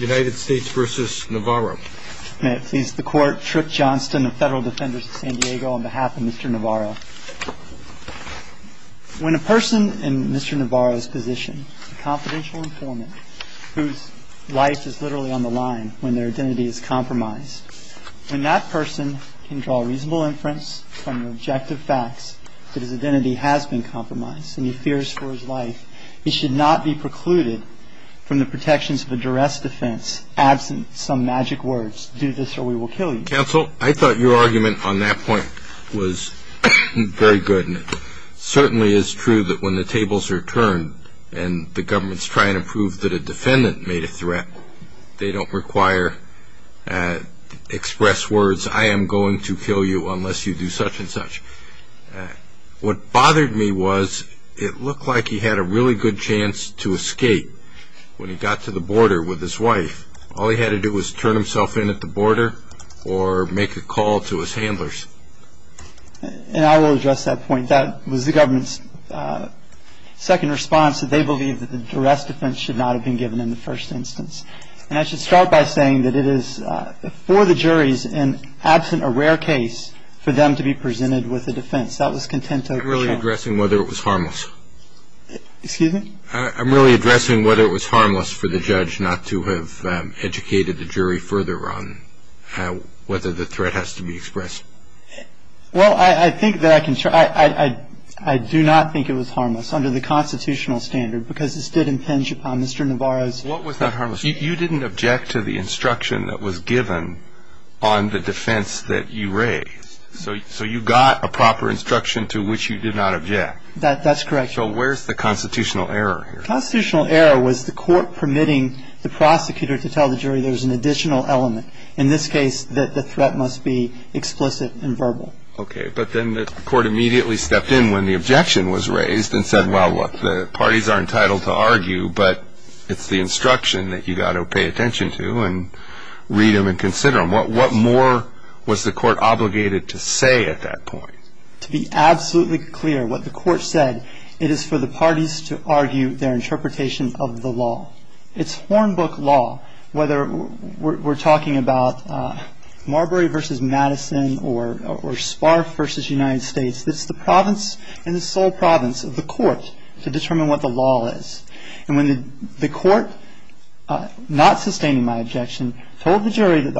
May it please the Court, Tripp Johnston of Federal Defenders of San Diego on behalf of Mr. Navarro. When a person in Mr. Navarro's position, a confidential informant whose life is literally on the line when their identity is compromised, when that person can draw reasonable inference from the objective facts that his identity has been compromised and he fears for his life, he should not be precluded from the protections of a duress defense absent some magic words, do this or we will kill you. Counsel, I thought your argument on that point was very good. It certainly is true that when the tables are turned and the government's trying to prove that a defendant made a threat, they don't require express words, I am going to kill you unless you do such and such. What bothered me was it looked like he had a really good chance to escape when he got to the border with his wife. All he had to do was turn himself in at the border or make a call to his handlers. And I will address that point. That was the government's second response that they believe that the duress defense should not have been given in the first instance. And I should start by saying that it is for the juries and absent a rare case for them to be presented with a defense. That was contento. I'm really addressing whether it was harmless. Excuse me? I'm really addressing whether it was harmless for the judge not to have educated the jury further on whether the threat has to be expressed. Well, I think that I can try. I do not think it was harmless under the constitutional standard because this did impinge upon Mr. Navarro's. What was not harmless? You didn't object to the instruction that was given on the defense that you raised. So you got a proper instruction to which you did not object. That's correct. So where is the constitutional error here? The constitutional error was the court permitting the prosecutor to tell the jury there is an additional element. In this case, the threat must be explicit and verbal. Okay, but then the court immediately stepped in when the objection was raised and said, Well, look, the parties are entitled to argue, but it's the instruction that you've got to pay attention to and read them and consider them. What more was the court obligated to say at that point? To be absolutely clear, what the court said, it is for the parties to argue their interpretation of the law. It's Hornbook law, whether we're talking about Marbury v. Madison or Spar v. United States. It's the province and the sole province of the court to determine what the law is. And when the court, not sustaining my objection, told the jury that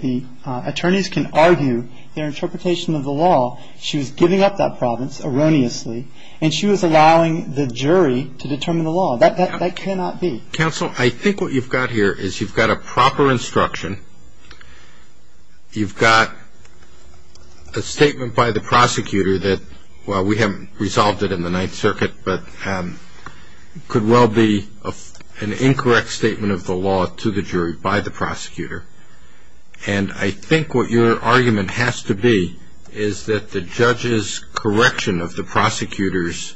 the attorneys can argue their interpretation of the law, she was giving up that province erroneously, and she was allowing the jury to determine the law. That cannot be. Counsel, I think what you've got here is you've got a proper instruction. You've got a statement by the prosecutor that, well, we haven't resolved it in the Ninth Circuit, but it could well be an incorrect statement of the law to the jury by the prosecutor. And I think what your argument has to be is that the judge's correction of the prosecutor's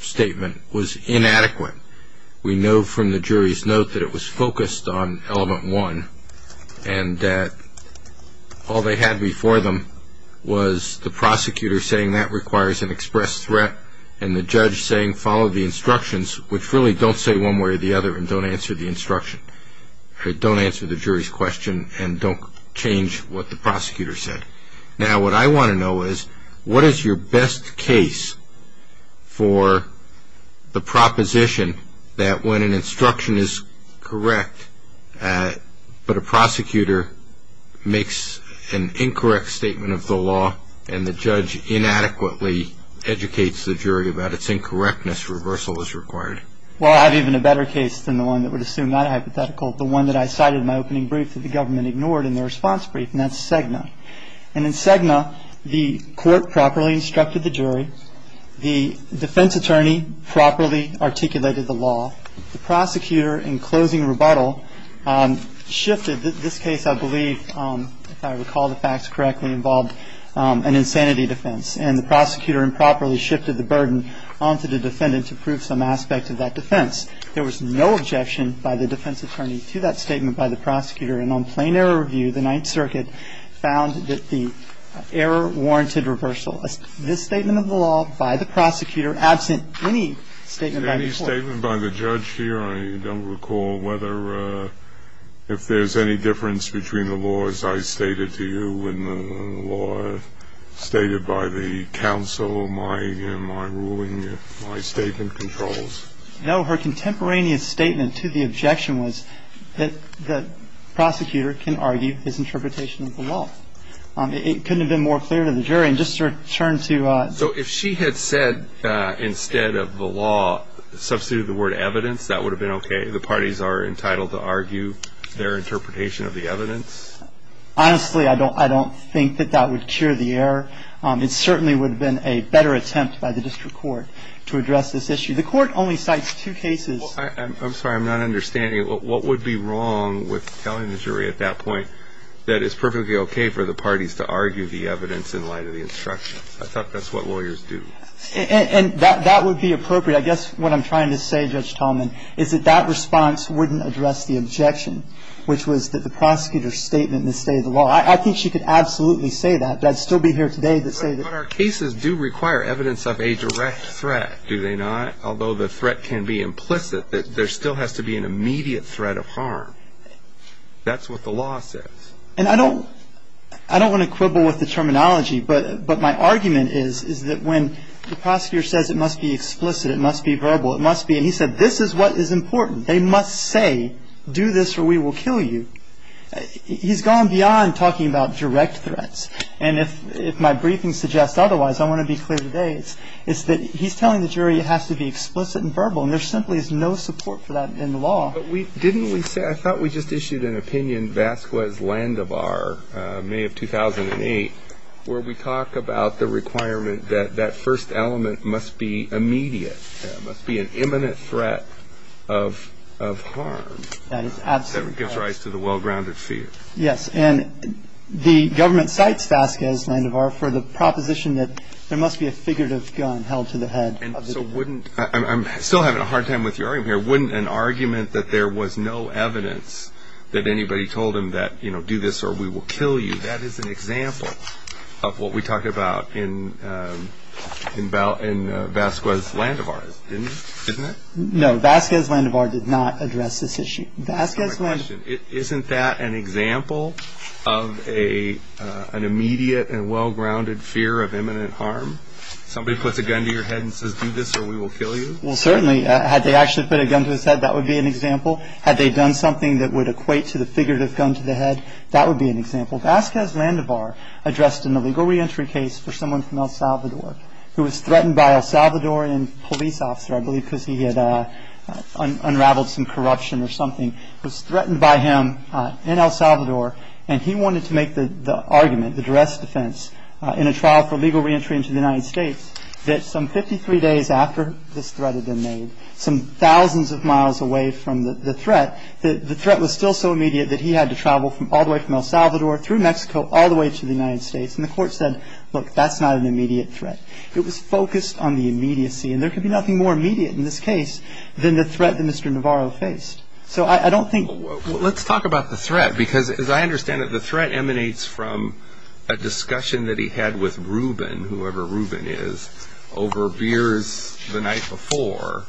statement was inadequate. We know from the jury's note that it was focused on element one, and that all they had before them was the prosecutor saying that requires an express threat and the judge saying follow the instructions, which really don't say one way or the other and don't answer the instruction. Don't answer the jury's question and don't change what the prosecutor said. Now, what I want to know is what is your best case for the proposition that when an instruction is correct, but a prosecutor makes an incorrect statement of the law and the judge inadequately educates the jury about its incorrectness, reversal is required. Well, I have even a better case than the one that would assume that hypothetical, the one that I cited in my opening brief that the government ignored in the response brief, and that's Cegna. And in Cegna, the court properly instructed the jury. The defense attorney properly articulated the law. The prosecutor, in closing rebuttal, shifted. This case, I believe, if I recall the facts correctly, involved an insanity defense, and the prosecutor improperly shifted the burden onto the defendant to prove some aspect of that defense. There was no objection by the defense attorney to that statement by the prosecutor. And on plain error review, the Ninth Circuit found that the error warranted reversal. This statement of the law by the prosecutor, absent any statement by the court. Any statement by the judge here? I don't recall whether, if there's any difference between the laws I stated to you and the law stated by the counsel, my ruling, my statement controls. No. Her contemporaneous statement to the objection was that the prosecutor can argue his interpretation of the law. It couldn't have been more clear to the jury. And just to return to ‑‑ So if she had said, instead of the law, substituted the word evidence, that would have been okay? The parties are entitled to argue their interpretation of the evidence? Honestly, I don't think that that would cure the error. It certainly would have been a better attempt by the district court to address this issue. The court only cites two cases. I'm sorry. I'm not understanding it. What would be wrong with telling the jury at that point that it's perfectly okay for the parties to argue the evidence in light of the instruction? I thought that's what lawyers do. And that would be appropriate. I guess what I'm trying to say, Judge Tallman, is that that response wouldn't address the objection, which was that the prosecutor's statement in the state of the law. I think she could absolutely say that. I'd still be here today to say that. But our cases do require evidence of a direct threat, do they not? Although the threat can be implicit, there still has to be an immediate threat of harm. That's what the law says. And I don't want to quibble with the terminology, but my argument is that when the prosecutor says it must be explicit, it must be verbal, it must be, and he said this is what is important, they must say, do this or we will kill you. He's gone beyond talking about direct threats. And if my briefing suggests otherwise, I want to be clear today. It's that he's telling the jury it has to be explicit and verbal, and there simply is no support for that in the law. But didn't we say, I thought we just issued an opinion, Vasquez-Landevar, May of 2008, where we talk about the requirement that that first element must be immediate, must be an imminent threat of harm. That is absolutely correct. That gives rise to the well-grounded fear. Yes, and the government cites Vasquez-Landevar for the proposition that there must be a figurative gun held to the head. So wouldn't, I'm still having a hard time with your argument here, wouldn't an argument that there was no evidence that anybody told him that, you know, do this or we will kill you, that is an example of what we talk about in Vasquez-Landevar, isn't it? No, Vasquez-Landevar did not address this issue. My question, isn't that an example of an immediate and well-grounded fear of imminent harm? Somebody puts a gun to your head and says do this or we will kill you? Well, certainly, had they actually put a gun to his head, that would be an example. Had they done something that would equate to the figurative gun to the head, that would be an example. Vasquez-Landevar addressed an illegal reentry case for someone from El Salvador who was threatened by El Salvadorian police officer, I believe because he had unraveled some corruption or something, was threatened by him in El Salvador and he wanted to make the argument, address defense in a trial for legal reentry into the United States, that some 53 days after this threat had been made, some thousands of miles away from the threat, the threat was still so immediate that he had to travel all the way from El Salvador through Mexico all the way to the United States and the court said, look, that's not an immediate threat. It was focused on the immediacy and there could be nothing more immediate in this case than the threat that Mr. Navarro faced. So I don't think... Let's talk about the threat because as I understand it, the threat emanates from a discussion that he had with Ruben, whoever Ruben is, over beers the night before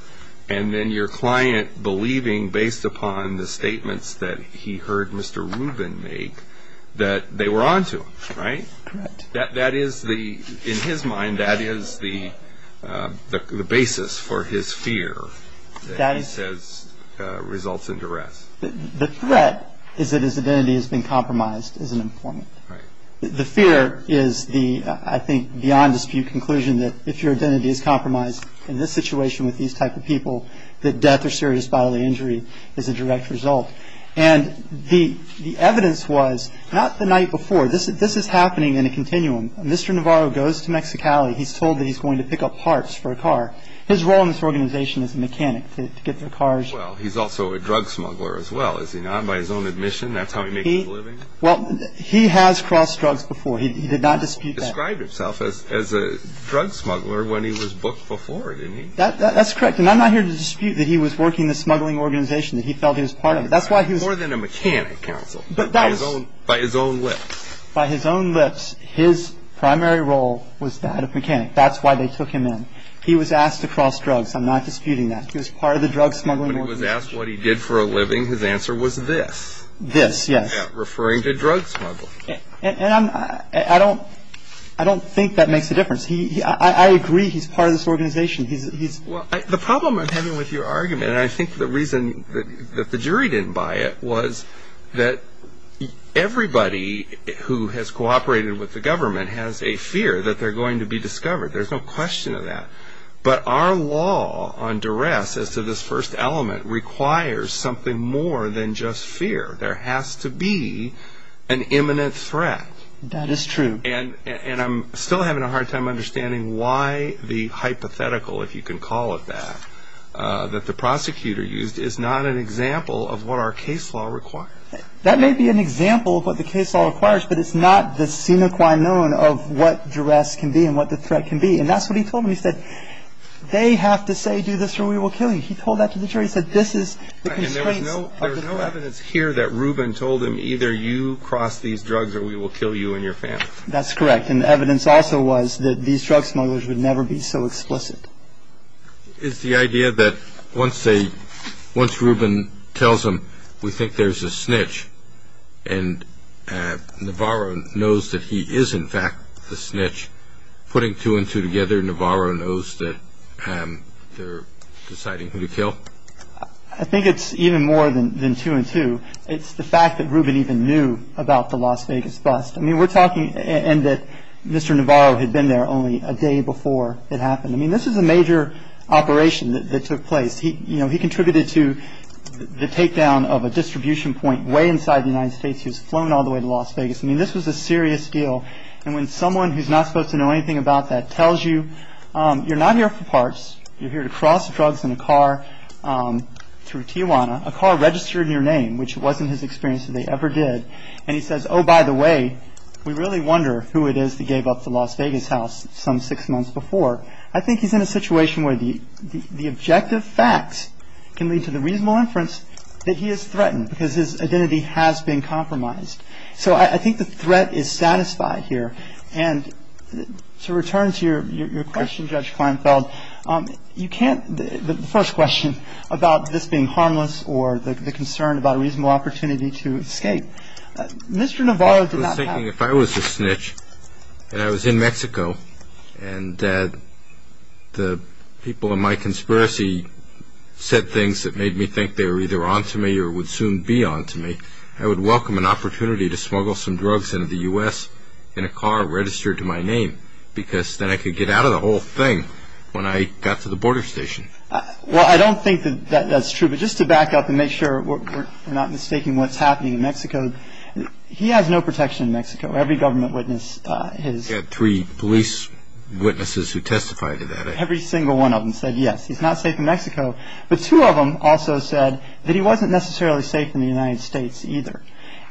and then your client believing based upon the statements that he heard Mr. Ruben make that they were onto him, right? Correct. That is the, in his mind, that is the basis for his fear that he says results in duress. The threat is that his identity has been compromised as an informant. Right. The fear is the, I think, beyond dispute conclusion that if your identity is compromised in this situation with these type of people, that death or serious bodily injury is a direct result. And the evidence was, not the night before, this is happening in a continuum. Mr. Navarro goes to Mexicali. He's told that he's going to pick up parts for a car. His role in this organization is a mechanic to get the cars. Well, he's also a drug smuggler as well, is he not, by his own admission? That's how he makes a living? Well, he has crossed drugs before. He did not dispute that. He described himself as a drug smuggler when he was booked before, didn't he? That's correct. And I'm not here to dispute that he was working in a smuggling organization, that he felt he was part of it. That's why he was... By his own lips, his primary role was that of mechanic. That's why they took him in. He was asked to cross drugs. I'm not disputing that. He was part of the drug smuggling organization. When he was asked what he did for a living, his answer was this. This, yes. Referring to drug smuggling. And I don't think that makes a difference. I agree he's part of this organization. He's... Well, the problem I'm having with your argument, and I think the reason that the jury didn't buy it, was that everybody who has cooperated with the government has a fear that they're going to be discovered. There's no question of that. But our law on duress as to this first element requires something more than just fear. There has to be an imminent threat. That is true. And I'm still having a hard time understanding why the hypothetical, if you can call it that, that the prosecutor used is not an example of what our case law requires. That may be an example of what the case law requires, but it's not the sine qua non of what duress can be and what the threat can be. And that's what he told me. He said, they have to say, do this or we will kill you. He told that to the jury. He said, this is the constraints of the law. And there was no evidence here that Rubin told him, either you cross these drugs or we will kill you and your family. That's correct. And the evidence also was that these drug smugglers would never be so explicit. Is the idea that once Rubin tells them we think there's a snitch and Navarro knows that he is, in fact, the snitch, putting two and two together Navarro knows that they're deciding who to kill? I think it's even more than two and two. It's the fact that Rubin even knew about the Las Vegas bust. I mean, we're talking that Mr. Navarro had been there only a day before it happened. I mean, this is a major operation that took place. He contributed to the takedown of a distribution point way inside the United States. He was flown all the way to Las Vegas. I mean, this was a serious deal. And when someone who's not supposed to know anything about that tells you, you're not here for parts, you're here to cross drugs in a car through Tijuana, a car registered in your name, which wasn't his experience and they ever did. And he says, oh, by the way, we really wonder who it is that gave up the Las Vegas house some six months before. I think he's in a situation where the objective facts can lead to the reasonable inference that he is threatened because his identity has been compromised. So I think the threat is satisfied here. And to return to your question, Judge Kleinfeld, you can't the first question about this being harmless or the concern about a reasonable opportunity to escape. Mr. Navarro did not have. I was thinking if I was a snitch and I was in Mexico and that the people in my conspiracy said things that made me think they were either on to me or would soon be on to me, I would welcome an opportunity to smuggle some drugs into the U.S. in a car registered to my name because then I could get out of the whole thing when I got to the border station. Well, I don't think that that's true. But just to back up and make sure we're not mistaking what's happening in Mexico. He has no protection in Mexico. Every government witness has. He had three police witnesses who testified to that. Every single one of them said yes, he's not safe in Mexico. But two of them also said that he wasn't necessarily safe in the United States either.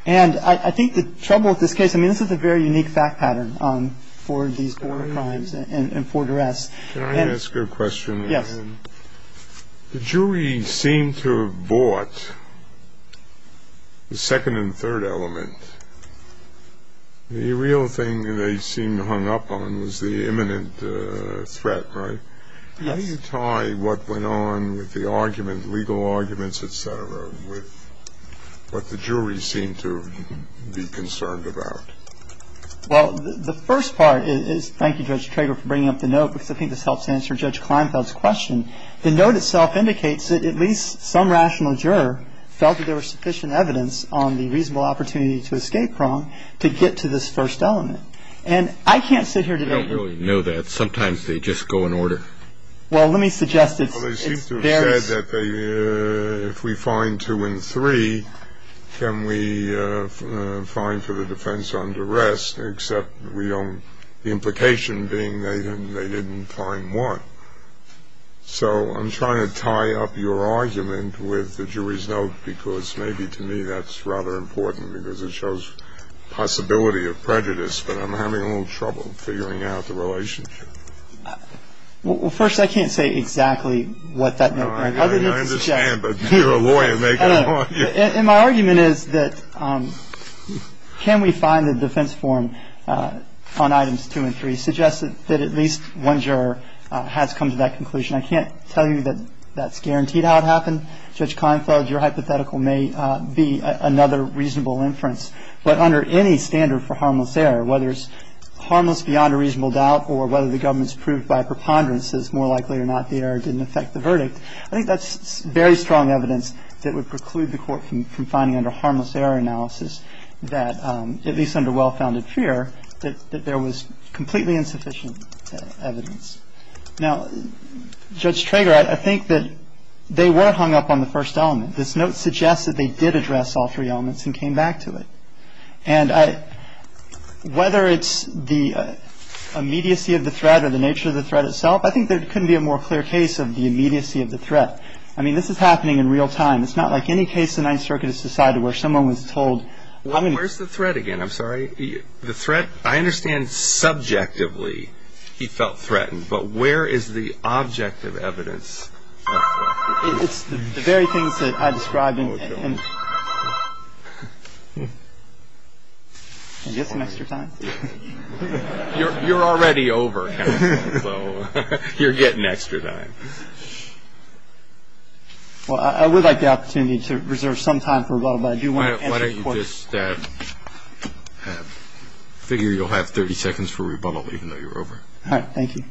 And I think the trouble with this case, I mean, this is a very unique fact pattern for these border crimes and for duress. Can I ask a question? Yes. The jury seemed to have bought the second and third element. The real thing they seemed hung up on was the imminent threat, right? Yes. How do you tie what went on with the argument, legal arguments, et cetera, with what the jury seemed to be concerned about? Well, the first part is thank you, Judge Trager, for bringing up the note, because I think this helps answer Judge Kleinfeld's question. The note itself indicates that at least some rational juror felt that there was sufficient evidence on the reasonable opportunity to escape prong to get to this first element. And I can't sit here today. I don't really know that. Sometimes they just go in order. Well, let me suggest it's various. Well, they seem to have said that if we find two and three, can we find for the defense under arrest, except the implication being they didn't find one. So I'm trying to tie up your argument with the jury's note, because maybe to me that's rather important because it shows possibility of prejudice, but I'm having a little trouble figuring out the relationship. Well, first, I can't say exactly what that note meant. I understand, but you're a lawyer. And my argument is that can we find the defense form on items two and three suggests that at least one juror has come to that conclusion. I can't tell you that that's guaranteed how it happened. Judge Kleinfeld, your hypothetical may be another reasonable inference. But under any standard for harmless error, whether it's harmless beyond a reasonable doubt or whether the government's proved by preponderance is more likely or not the error didn't affect the verdict, I think that's very strong evidence that would preclude the Court from finding under harmless error analysis that, at least under well-founded fear, that there was completely insufficient evidence. Now, Judge Trager, I think that they were hung up on the first element. This note suggests that they did address all three elements and came back to it. And whether it's the immediacy of the threat or the nature of the threat itself, I think there couldn't be a more clear case of the immediacy of the threat. I mean, this is happening in real time. It's not like any case the Ninth Circuit has decided where someone was told. Where's the threat again? I'm sorry. The threat, I understand subjectively he felt threatened. But where is the objective evidence? It's the very things that I described. And get some extra time. You're already over. So you're getting extra time. Well, I would like the opportunity to reserve some time for rebuttal. But I do want to answer the question. Why don't you just figure you'll have 30 seconds for rebuttal even though you're over. Thank you.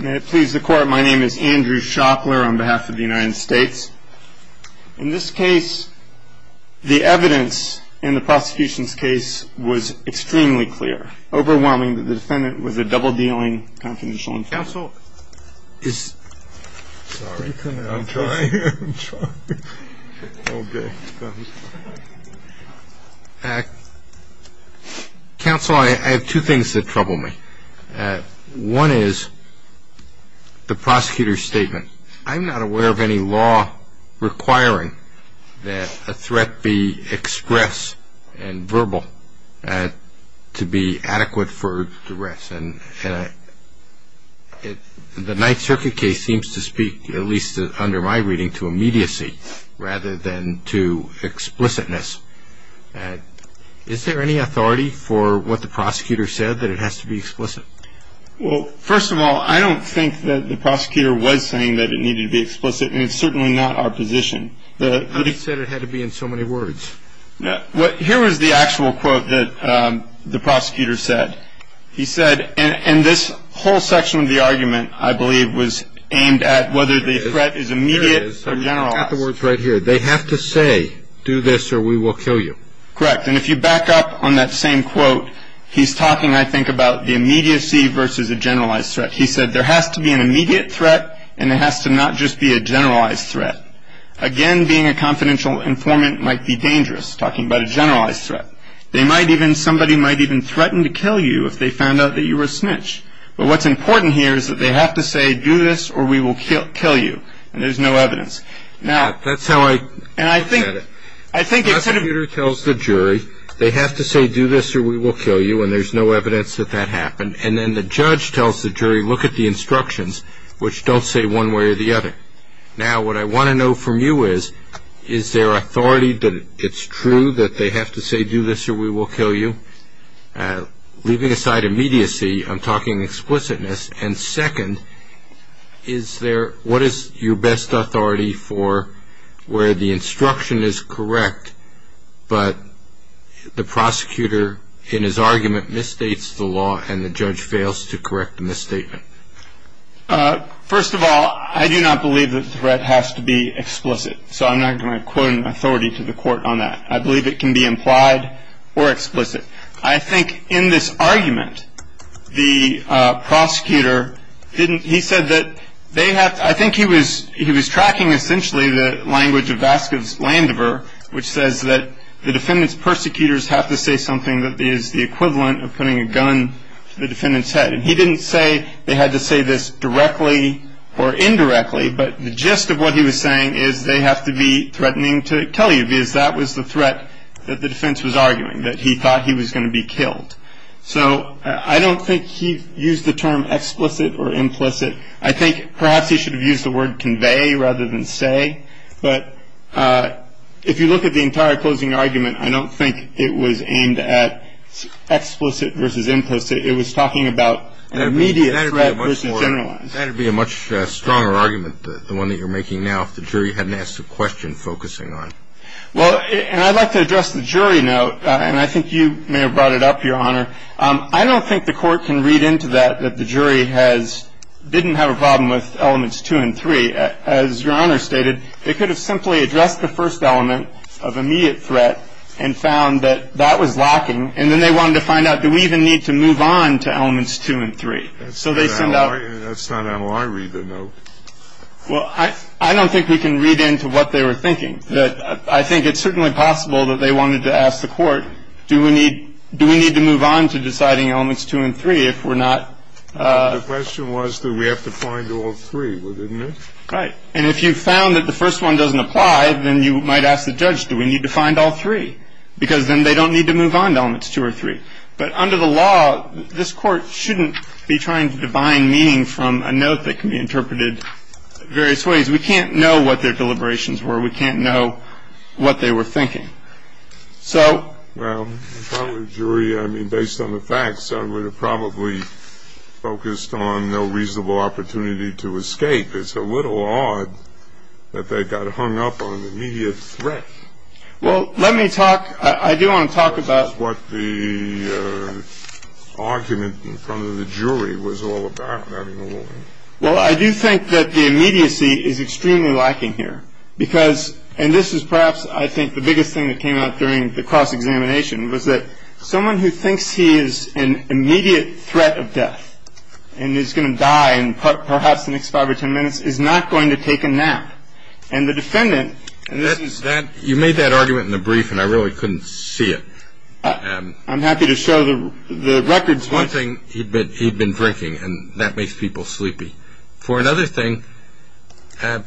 May it please the Court. My name is Andrew Shopler on behalf of the United States. In this case, the evidence in the prosecution's case was extremely clear, overwhelming that the defendant was a double-dealing, confidential informant. Counsel, is... Sorry. I'm trying. I'm trying. Okay. Counsel, I have two things that trouble me. One is the prosecutor's statement. I'm not aware of any law requiring that a threat be expressed and verbal to be adequate for duress. And the Ninth Circuit case seems to speak, at least under my reading, to immediacy rather than to explicitness. Is there any authority for what the prosecutor said, that it has to be explicit? Well, first of all, I don't think that the prosecutor was saying that it needed to be explicit, and it's certainly not our position. But he said it had to be in so many words. Here was the actual quote that the prosecutor said. He said, and this whole section of the argument, I believe, was aimed at whether the threat is immediate or general. Here it is. I've got the words right here. They have to say, do this or we will kill you. Correct. And if you back up on that same quote, he's talking, I think, about the immediacy versus a generalized threat. He said there has to be an immediate threat, and there has to not just be a generalized threat. Again, being a confidential informant might be dangerous, talking about a generalized threat. Somebody might even threaten to kill you if they found out that you were a snitch. But what's important here is that they have to say, do this or we will kill you, and there's no evidence. Now, that's how I look at it. The prosecutor tells the jury, they have to say, do this or we will kill you, and there's no evidence that that happened. And then the judge tells the jury, look at the instructions, which don't say one way or the other. Now, what I want to know from you is, is there authority that it's true that they have to say, do this or we will kill you? Leaving aside immediacy, I'm talking explicitness. And second, what is your best authority for where the instruction is correct, but the prosecutor in his argument misstates the law and the judge fails to correct the misstatement? First of all, I do not believe the threat has to be explicit, so I'm not going to quote an authority to the court on that. I believe it can be implied or explicit. I think in this argument, the prosecutor didn't – he said that they have – I think he was tracking essentially the language of Vasco's Landover, which says that the defendant's persecutors have to say something that is the equivalent of putting a gun to the defendant's head. And he didn't say they had to say this directly or indirectly, but the gist of what he was saying is they have to be threatening to kill you So I don't think he used the term explicit or implicit. I think perhaps he should have used the word convey rather than say. But if you look at the entire closing argument, I don't think it was aimed at explicit versus implicit. It was talking about an immediate threat versus generalized. That would be a much stronger argument, the one that you're making now, if the jury hadn't asked a question focusing on the threat. Well, and I'd like to address the jury note, and I think you may have brought it up, Your Honor. I don't think the court can read into that, that the jury has – didn't have a problem with elements two and three. As Your Honor stated, they could have simply addressed the first element of immediate threat and found that that was lacking. And then they wanted to find out, do we even need to move on to elements two and three? That's not how I read the note. Well, I don't think we can read into what they were thinking. I think it's certainly possible that they wanted to ask the court, do we need – do we need to move on to deciding elements two and three if we're not The question was, do we have to find all three, wasn't it? Right. And if you found that the first one doesn't apply, then you might ask the judge, do we need to find all three? Because then they don't need to move on to elements two or three. But under the law, this Court shouldn't be trying to divine meaning from a note that can be interpreted various ways. We can't know what their deliberations were. We can't know what they were thinking. So – Well, if I were a jury, I mean, based on the facts, I would have probably focused on no reasonable opportunity to escape. It's a little odd that they got hung up on immediate threat. Well, let me talk – I do want to talk about – This is what the argument in front of the jury was all about. Well, I do think that the immediacy is extremely lacking here because – and this is perhaps, I think, the biggest thing that came out during the cross-examination – was that someone who thinks he is an immediate threat of death and is going to die in perhaps the next five or ten minutes is not going to take a nap. And the defendant – You made that argument in the brief, and I really couldn't see it. I'm happy to show the records. One thing, he'd been drinking, and that makes people sleepy. For another thing,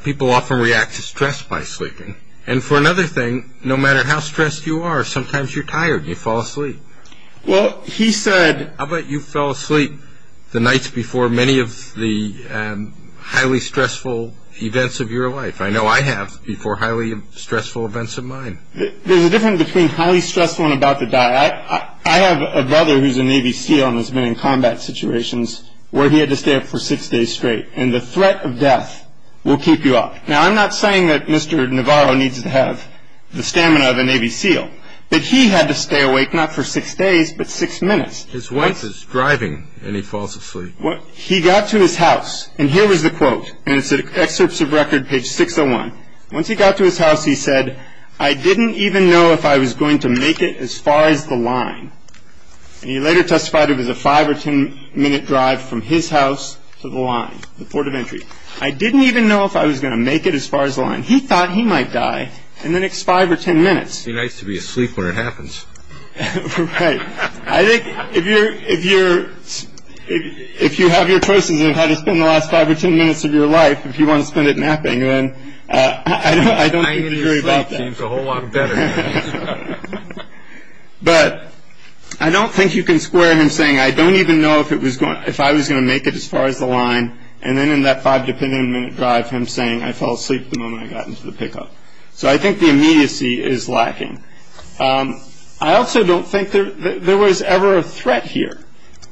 people often react to stress by sleeping. And for another thing, no matter how stressed you are, sometimes you're tired and you fall asleep. Well, he said – How about you fell asleep the nights before many of the highly stressful events of your life? I know I have before highly stressful events of mine. There's a difference between highly stressful and about to die. I have a brother who's a Navy SEAL and has been in combat situations where he had to stay up for six days straight. And the threat of death will keep you up. Now, I'm not saying that Mr. Navarro needs to have the stamina of a Navy SEAL, but he had to stay awake not for six days, but six minutes. His wife is driving, and he falls asleep. He got to his house, and here was the quote. And it's in Excerpts of Record, page 601. Once he got to his house, he said, I didn't even know if I was going to make it as far as the line. And he later testified it was a five- or ten-minute drive from his house to the line, the port of entry. I didn't even know if I was going to make it as far as the line. He thought he might die in the next five or ten minutes. He likes to be asleep when it happens. Right. I think if you have your choices on how to spend the last five or ten minutes of your life, if you want to spend it napping, then I don't think you need to worry about that. Lying in your sleep seems a whole lot better. But I don't think you can square him saying, I don't even know if I was going to make it as far as the line, and then in that five-dependent-minute drive him saying, I fell asleep the moment I got into the pickup. So I think the immediacy is lacking. I also don't think there was ever a threat here.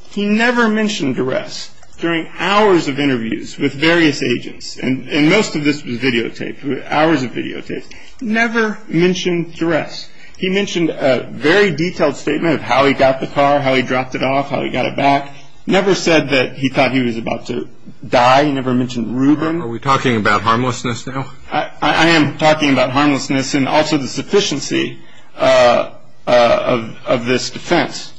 He never mentioned duress during hours of interviews with various agents. And most of this was videotaped, hours of videotaped. He never mentioned duress. He mentioned a very detailed statement of how he got the car, how he dropped it off, how he got it back. Never said that he thought he was about to die. He never mentioned rubin. Are we talking about harmlessness now? I am talking about harmlessness and also the sufficiency of this defense.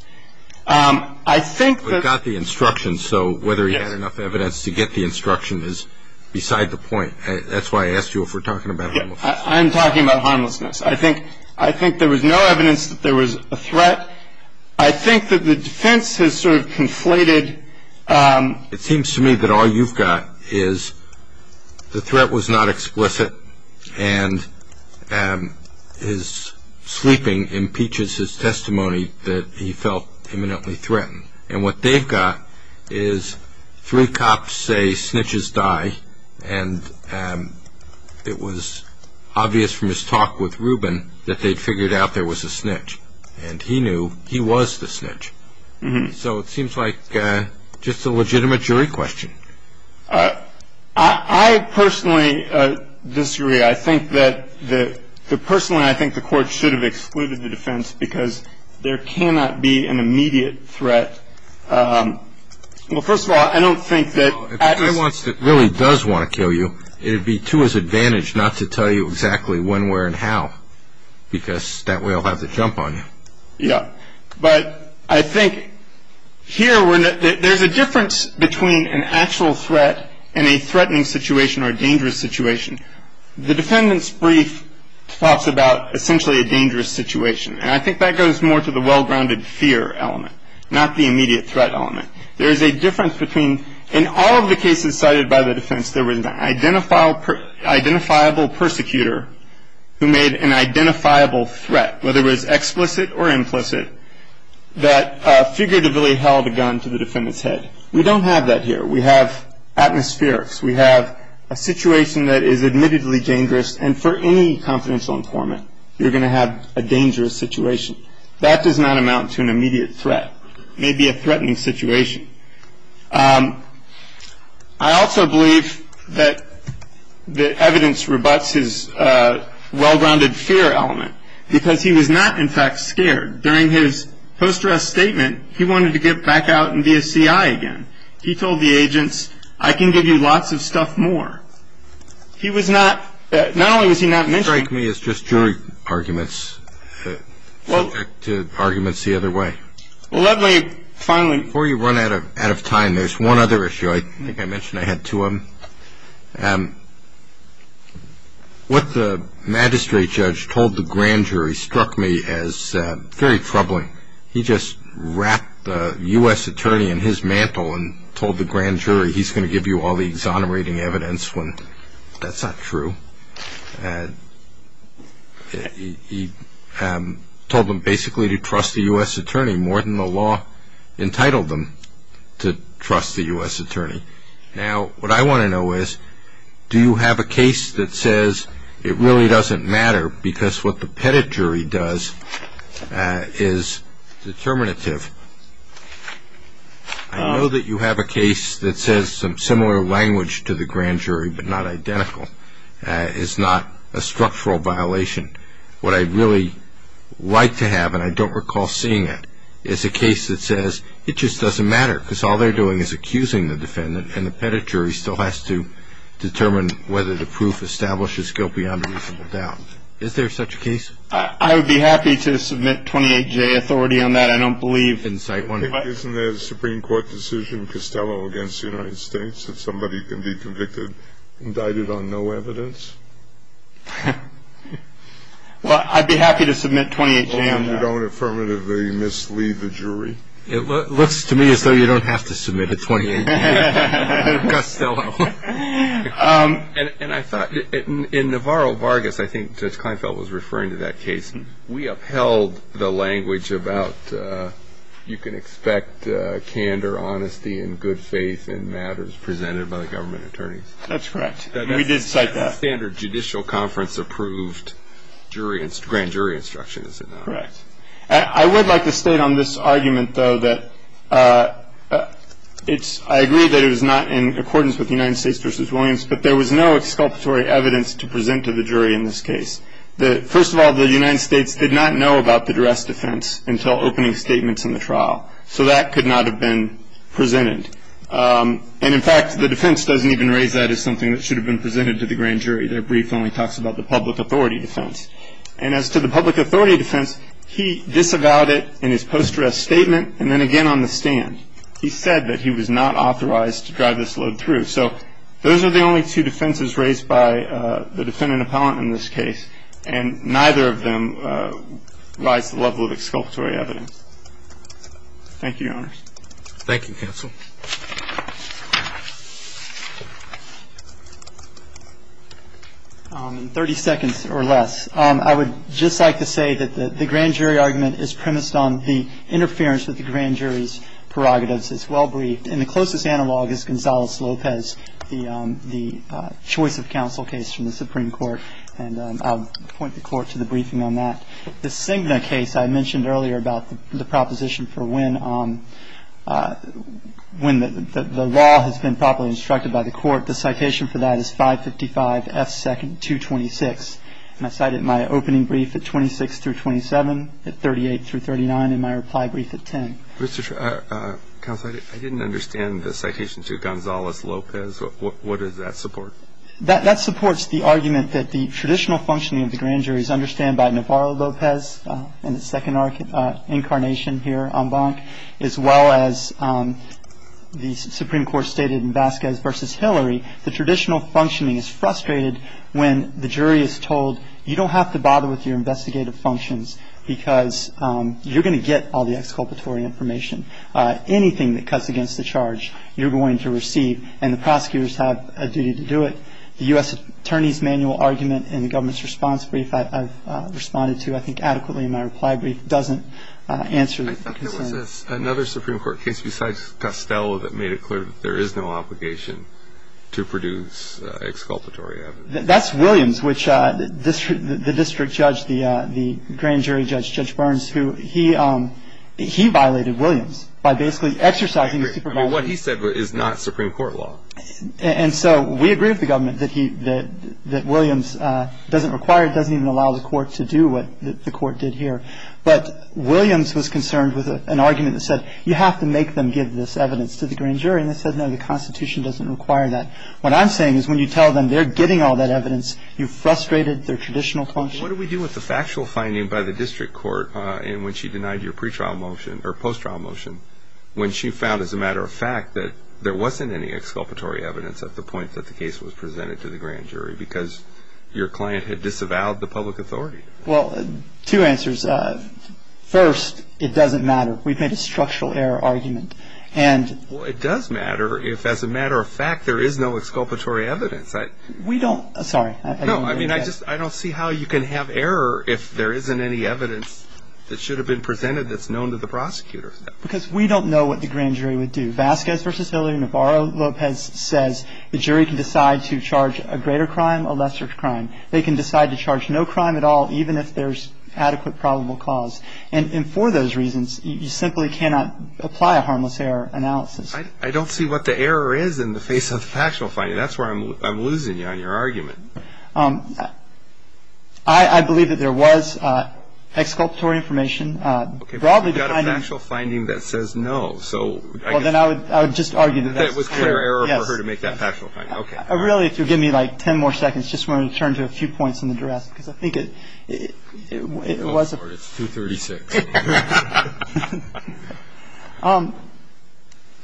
I think that... But he got the instructions, so whether he had enough evidence to get the instruction is beside the point. That's why I asked you if we're talking about harmlessness. I'm talking about harmlessness. I think there was no evidence that there was a threat. I think that the defense has sort of conflated. It seems to me that all you've got is the threat was not explicit and his sleeping impeaches his testimony that he felt imminently threatened. And what they've got is three cops say snitches die, and it was obvious from his talk with rubin that they'd figured out there was a snitch. And he knew he was the snitch. So it seems like just a legitimate jury question. I personally disagree. I think that the court should have excluded the defense because there cannot be an immediate threat. Well, first of all, I don't think that... If the guy really does want to kill you, it would be to his advantage not to tell you exactly when, where, and how, because that way I'll have to jump on you. Yeah. But I think here there's a difference between an actual threat and a threatening situation or a dangerous situation. The defendant's brief talks about essentially a dangerous situation, and I think that goes more to the well-grounded fear element, not the immediate threat element. There is a difference between... In all of the cases cited by the defense, there was an identifiable persecutor who made an identifiable threat, whether it was explicit or implicit, that figuratively held a gun to the defendant's head. We don't have that here. We have atmospherics. We have a situation that is admittedly dangerous, and for any confidential informant you're going to have a dangerous situation. That does not amount to an immediate threat. It may be a threatening situation. I also believe that the evidence rebutts his well-grounded fear element because he was not, in fact, scared. During his post-arrest statement, he wanted to get back out and be a C.I. again. He told the agents, I can give you lots of stuff more. He was not... Not only was he not mentioning... You strike me as just jury arguments subject to arguments the other way. Well, let me finally... Before you run out of time, there's one other issue. I think I mentioned I had two of them. What the magistrate judge told the grand jury struck me as very troubling. He just wrapped the U.S. attorney in his mantle and told the grand jury, he's going to give you all the exonerating evidence when that's not true. He told them basically to trust the U.S. attorney more than the law entitled them to trust the U.S. attorney. Now, what I want to know is, do you have a case that says it really doesn't matter because what the pettit jury does is determinative? I know that you have a case that says some similar language to the grand jury but not identical. It's not a structural violation. What I'd really like to have, and I don't recall seeing it, is a case that says it just doesn't matter because all they're doing is accusing the defendant and the pettit jury still has to determine whether the proof establishes guilt beyond reasonable doubt. Is there such a case? I would be happy to submit 28-J authority on that. Isn't there a Supreme Court decision, Costello against the United States, that somebody can be convicted, indicted on no evidence? Well, I'd be happy to submit 28-J on that. And you don't affirmatively mislead the jury? It looks to me as though you don't have to submit a 28-J, Costello. And I thought, in Navarro-Vargas, I think Judge Kleinfeld was referring to that case, we upheld the language about you can expect candor, honesty, and good faith in matters presented by the government attorneys. That's correct. We did cite that. That's the standard judicial conference-approved grand jury instruction, is it not? Correct. I would like to state on this argument, though, that I agree that it was not in accordance with the United States v. Williams, but there was no exculpatory evidence to present to the jury in this case. First of all, the United States did not know about the duress defense until opening statements in the trial. So that could not have been presented. And, in fact, the defense doesn't even raise that as something that should have been presented to the grand jury. Their brief only talks about the public authority defense. And as to the public authority defense, he disavowed it in his post-duress statement and then again on the stand. He said that he was not authorized to drive this load through. So those are the only two defenses raised by the defendant appellant in this case, and neither of them rise to the level of exculpatory evidence. Thank you, Your Honors. Thank you, counsel. Thirty seconds or less. I would just like to say that the grand jury argument is premised on the interference with the grand jury's prerogatives. It's well briefed. And the closest analog is Gonzalez-Lopez, the choice of counsel case from the Supreme Court. And I'll point the Court to the briefing on that. The Cigna case I mentioned earlier about the proposition for when the law has been properly instructed by the Court. The citation for that is 555F226. And I cited my opening brief at 26 through 27, at 38 through 39, and my reply brief at 10. Counsel, I didn't understand the citation to Gonzalez-Lopez. What does that support? That supports the argument that the traditional functioning of the grand jury is understood by Navarro-Lopez in his second incarnation here en banc, as well as the Supreme Court stated in Vasquez v. Hillary, the traditional functioning is frustrated when the jury is told, you don't have to bother with your investigative functions because you're going to get all the exculpatory information. Anything that cuts against the charge, you're going to receive. And the prosecutors have a duty to do it. The U.S. Attorney's Manual argument in the government's response brief I've responded to, I think, adequately in my reply brief, doesn't answer the concern. I thought there was another Supreme Court case besides Costello that made it clear that there is no obligation to produce exculpatory evidence. That's Williams, which the district judge, the grand jury judge, Judge Burns, who he violated Williams by basically exercising supervision. I mean, what he said is not Supreme Court law. And so we agree with the government that Williams doesn't require, doesn't even allow the court to do what the court did here. But Williams was concerned with an argument that said, you have to make them give this evidence to the grand jury. And they said, no, the Constitution doesn't require that. What I'm saying is when you tell them they're getting all that evidence, you've frustrated their traditional function. What do we do with the factual finding by the district court in which she denied your pre-trial motion or post-trial motion when she found, as a matter of fact, that there wasn't any exculpatory evidence at the point that the case was presented to the grand jury because your client had disavowed the public authority? Well, two answers. First, it doesn't matter. We've made a structural error argument. Well, it does matter if, as a matter of fact, there is no exculpatory evidence. We don't – sorry. No, I mean, I just – I don't see how you can have error if there isn't any evidence that should have been presented that's known to the prosecutor. Because we don't know what the grand jury would do. Vasquez v. Hillary, Navarro-Lopez says the jury can decide to charge a greater crime, a lesser crime. They can decide to charge no crime at all, even if there's adequate probable cause. And for those reasons, you simply cannot apply a harmless error analysis. I don't see what the error is in the face of the factual finding. That's where I'm losing you on your argument. I believe that there was exculpatory information. Okay, but you've got a factual finding that says no, so I guess – Well, then I would just argue that that's – That it was clear error for her to make that factual finding. Yes. Okay. Really, if you'll give me, like, ten more seconds, I just want to turn to a few points in the draft, because I think it was – It's 236.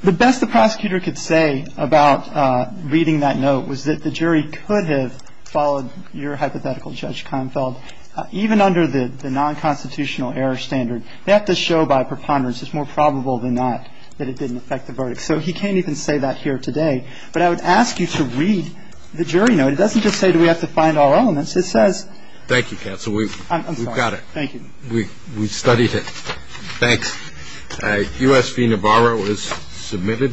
The best the prosecutor could say about reading that note was that the jury could have followed your hypothetical, Judge Keinfeld, even under the nonconstitutional error standard. They have to show by preponderance, it's more probable than not, that it didn't affect the verdict. So he can't even say that here today. But I would ask you to read the jury note. It doesn't just say do we have to find all elements. It says – Thank you, counsel. We've got it. I'm sorry. Thank you. We studied it. Thanks. U.S. v. Navarro is submitted.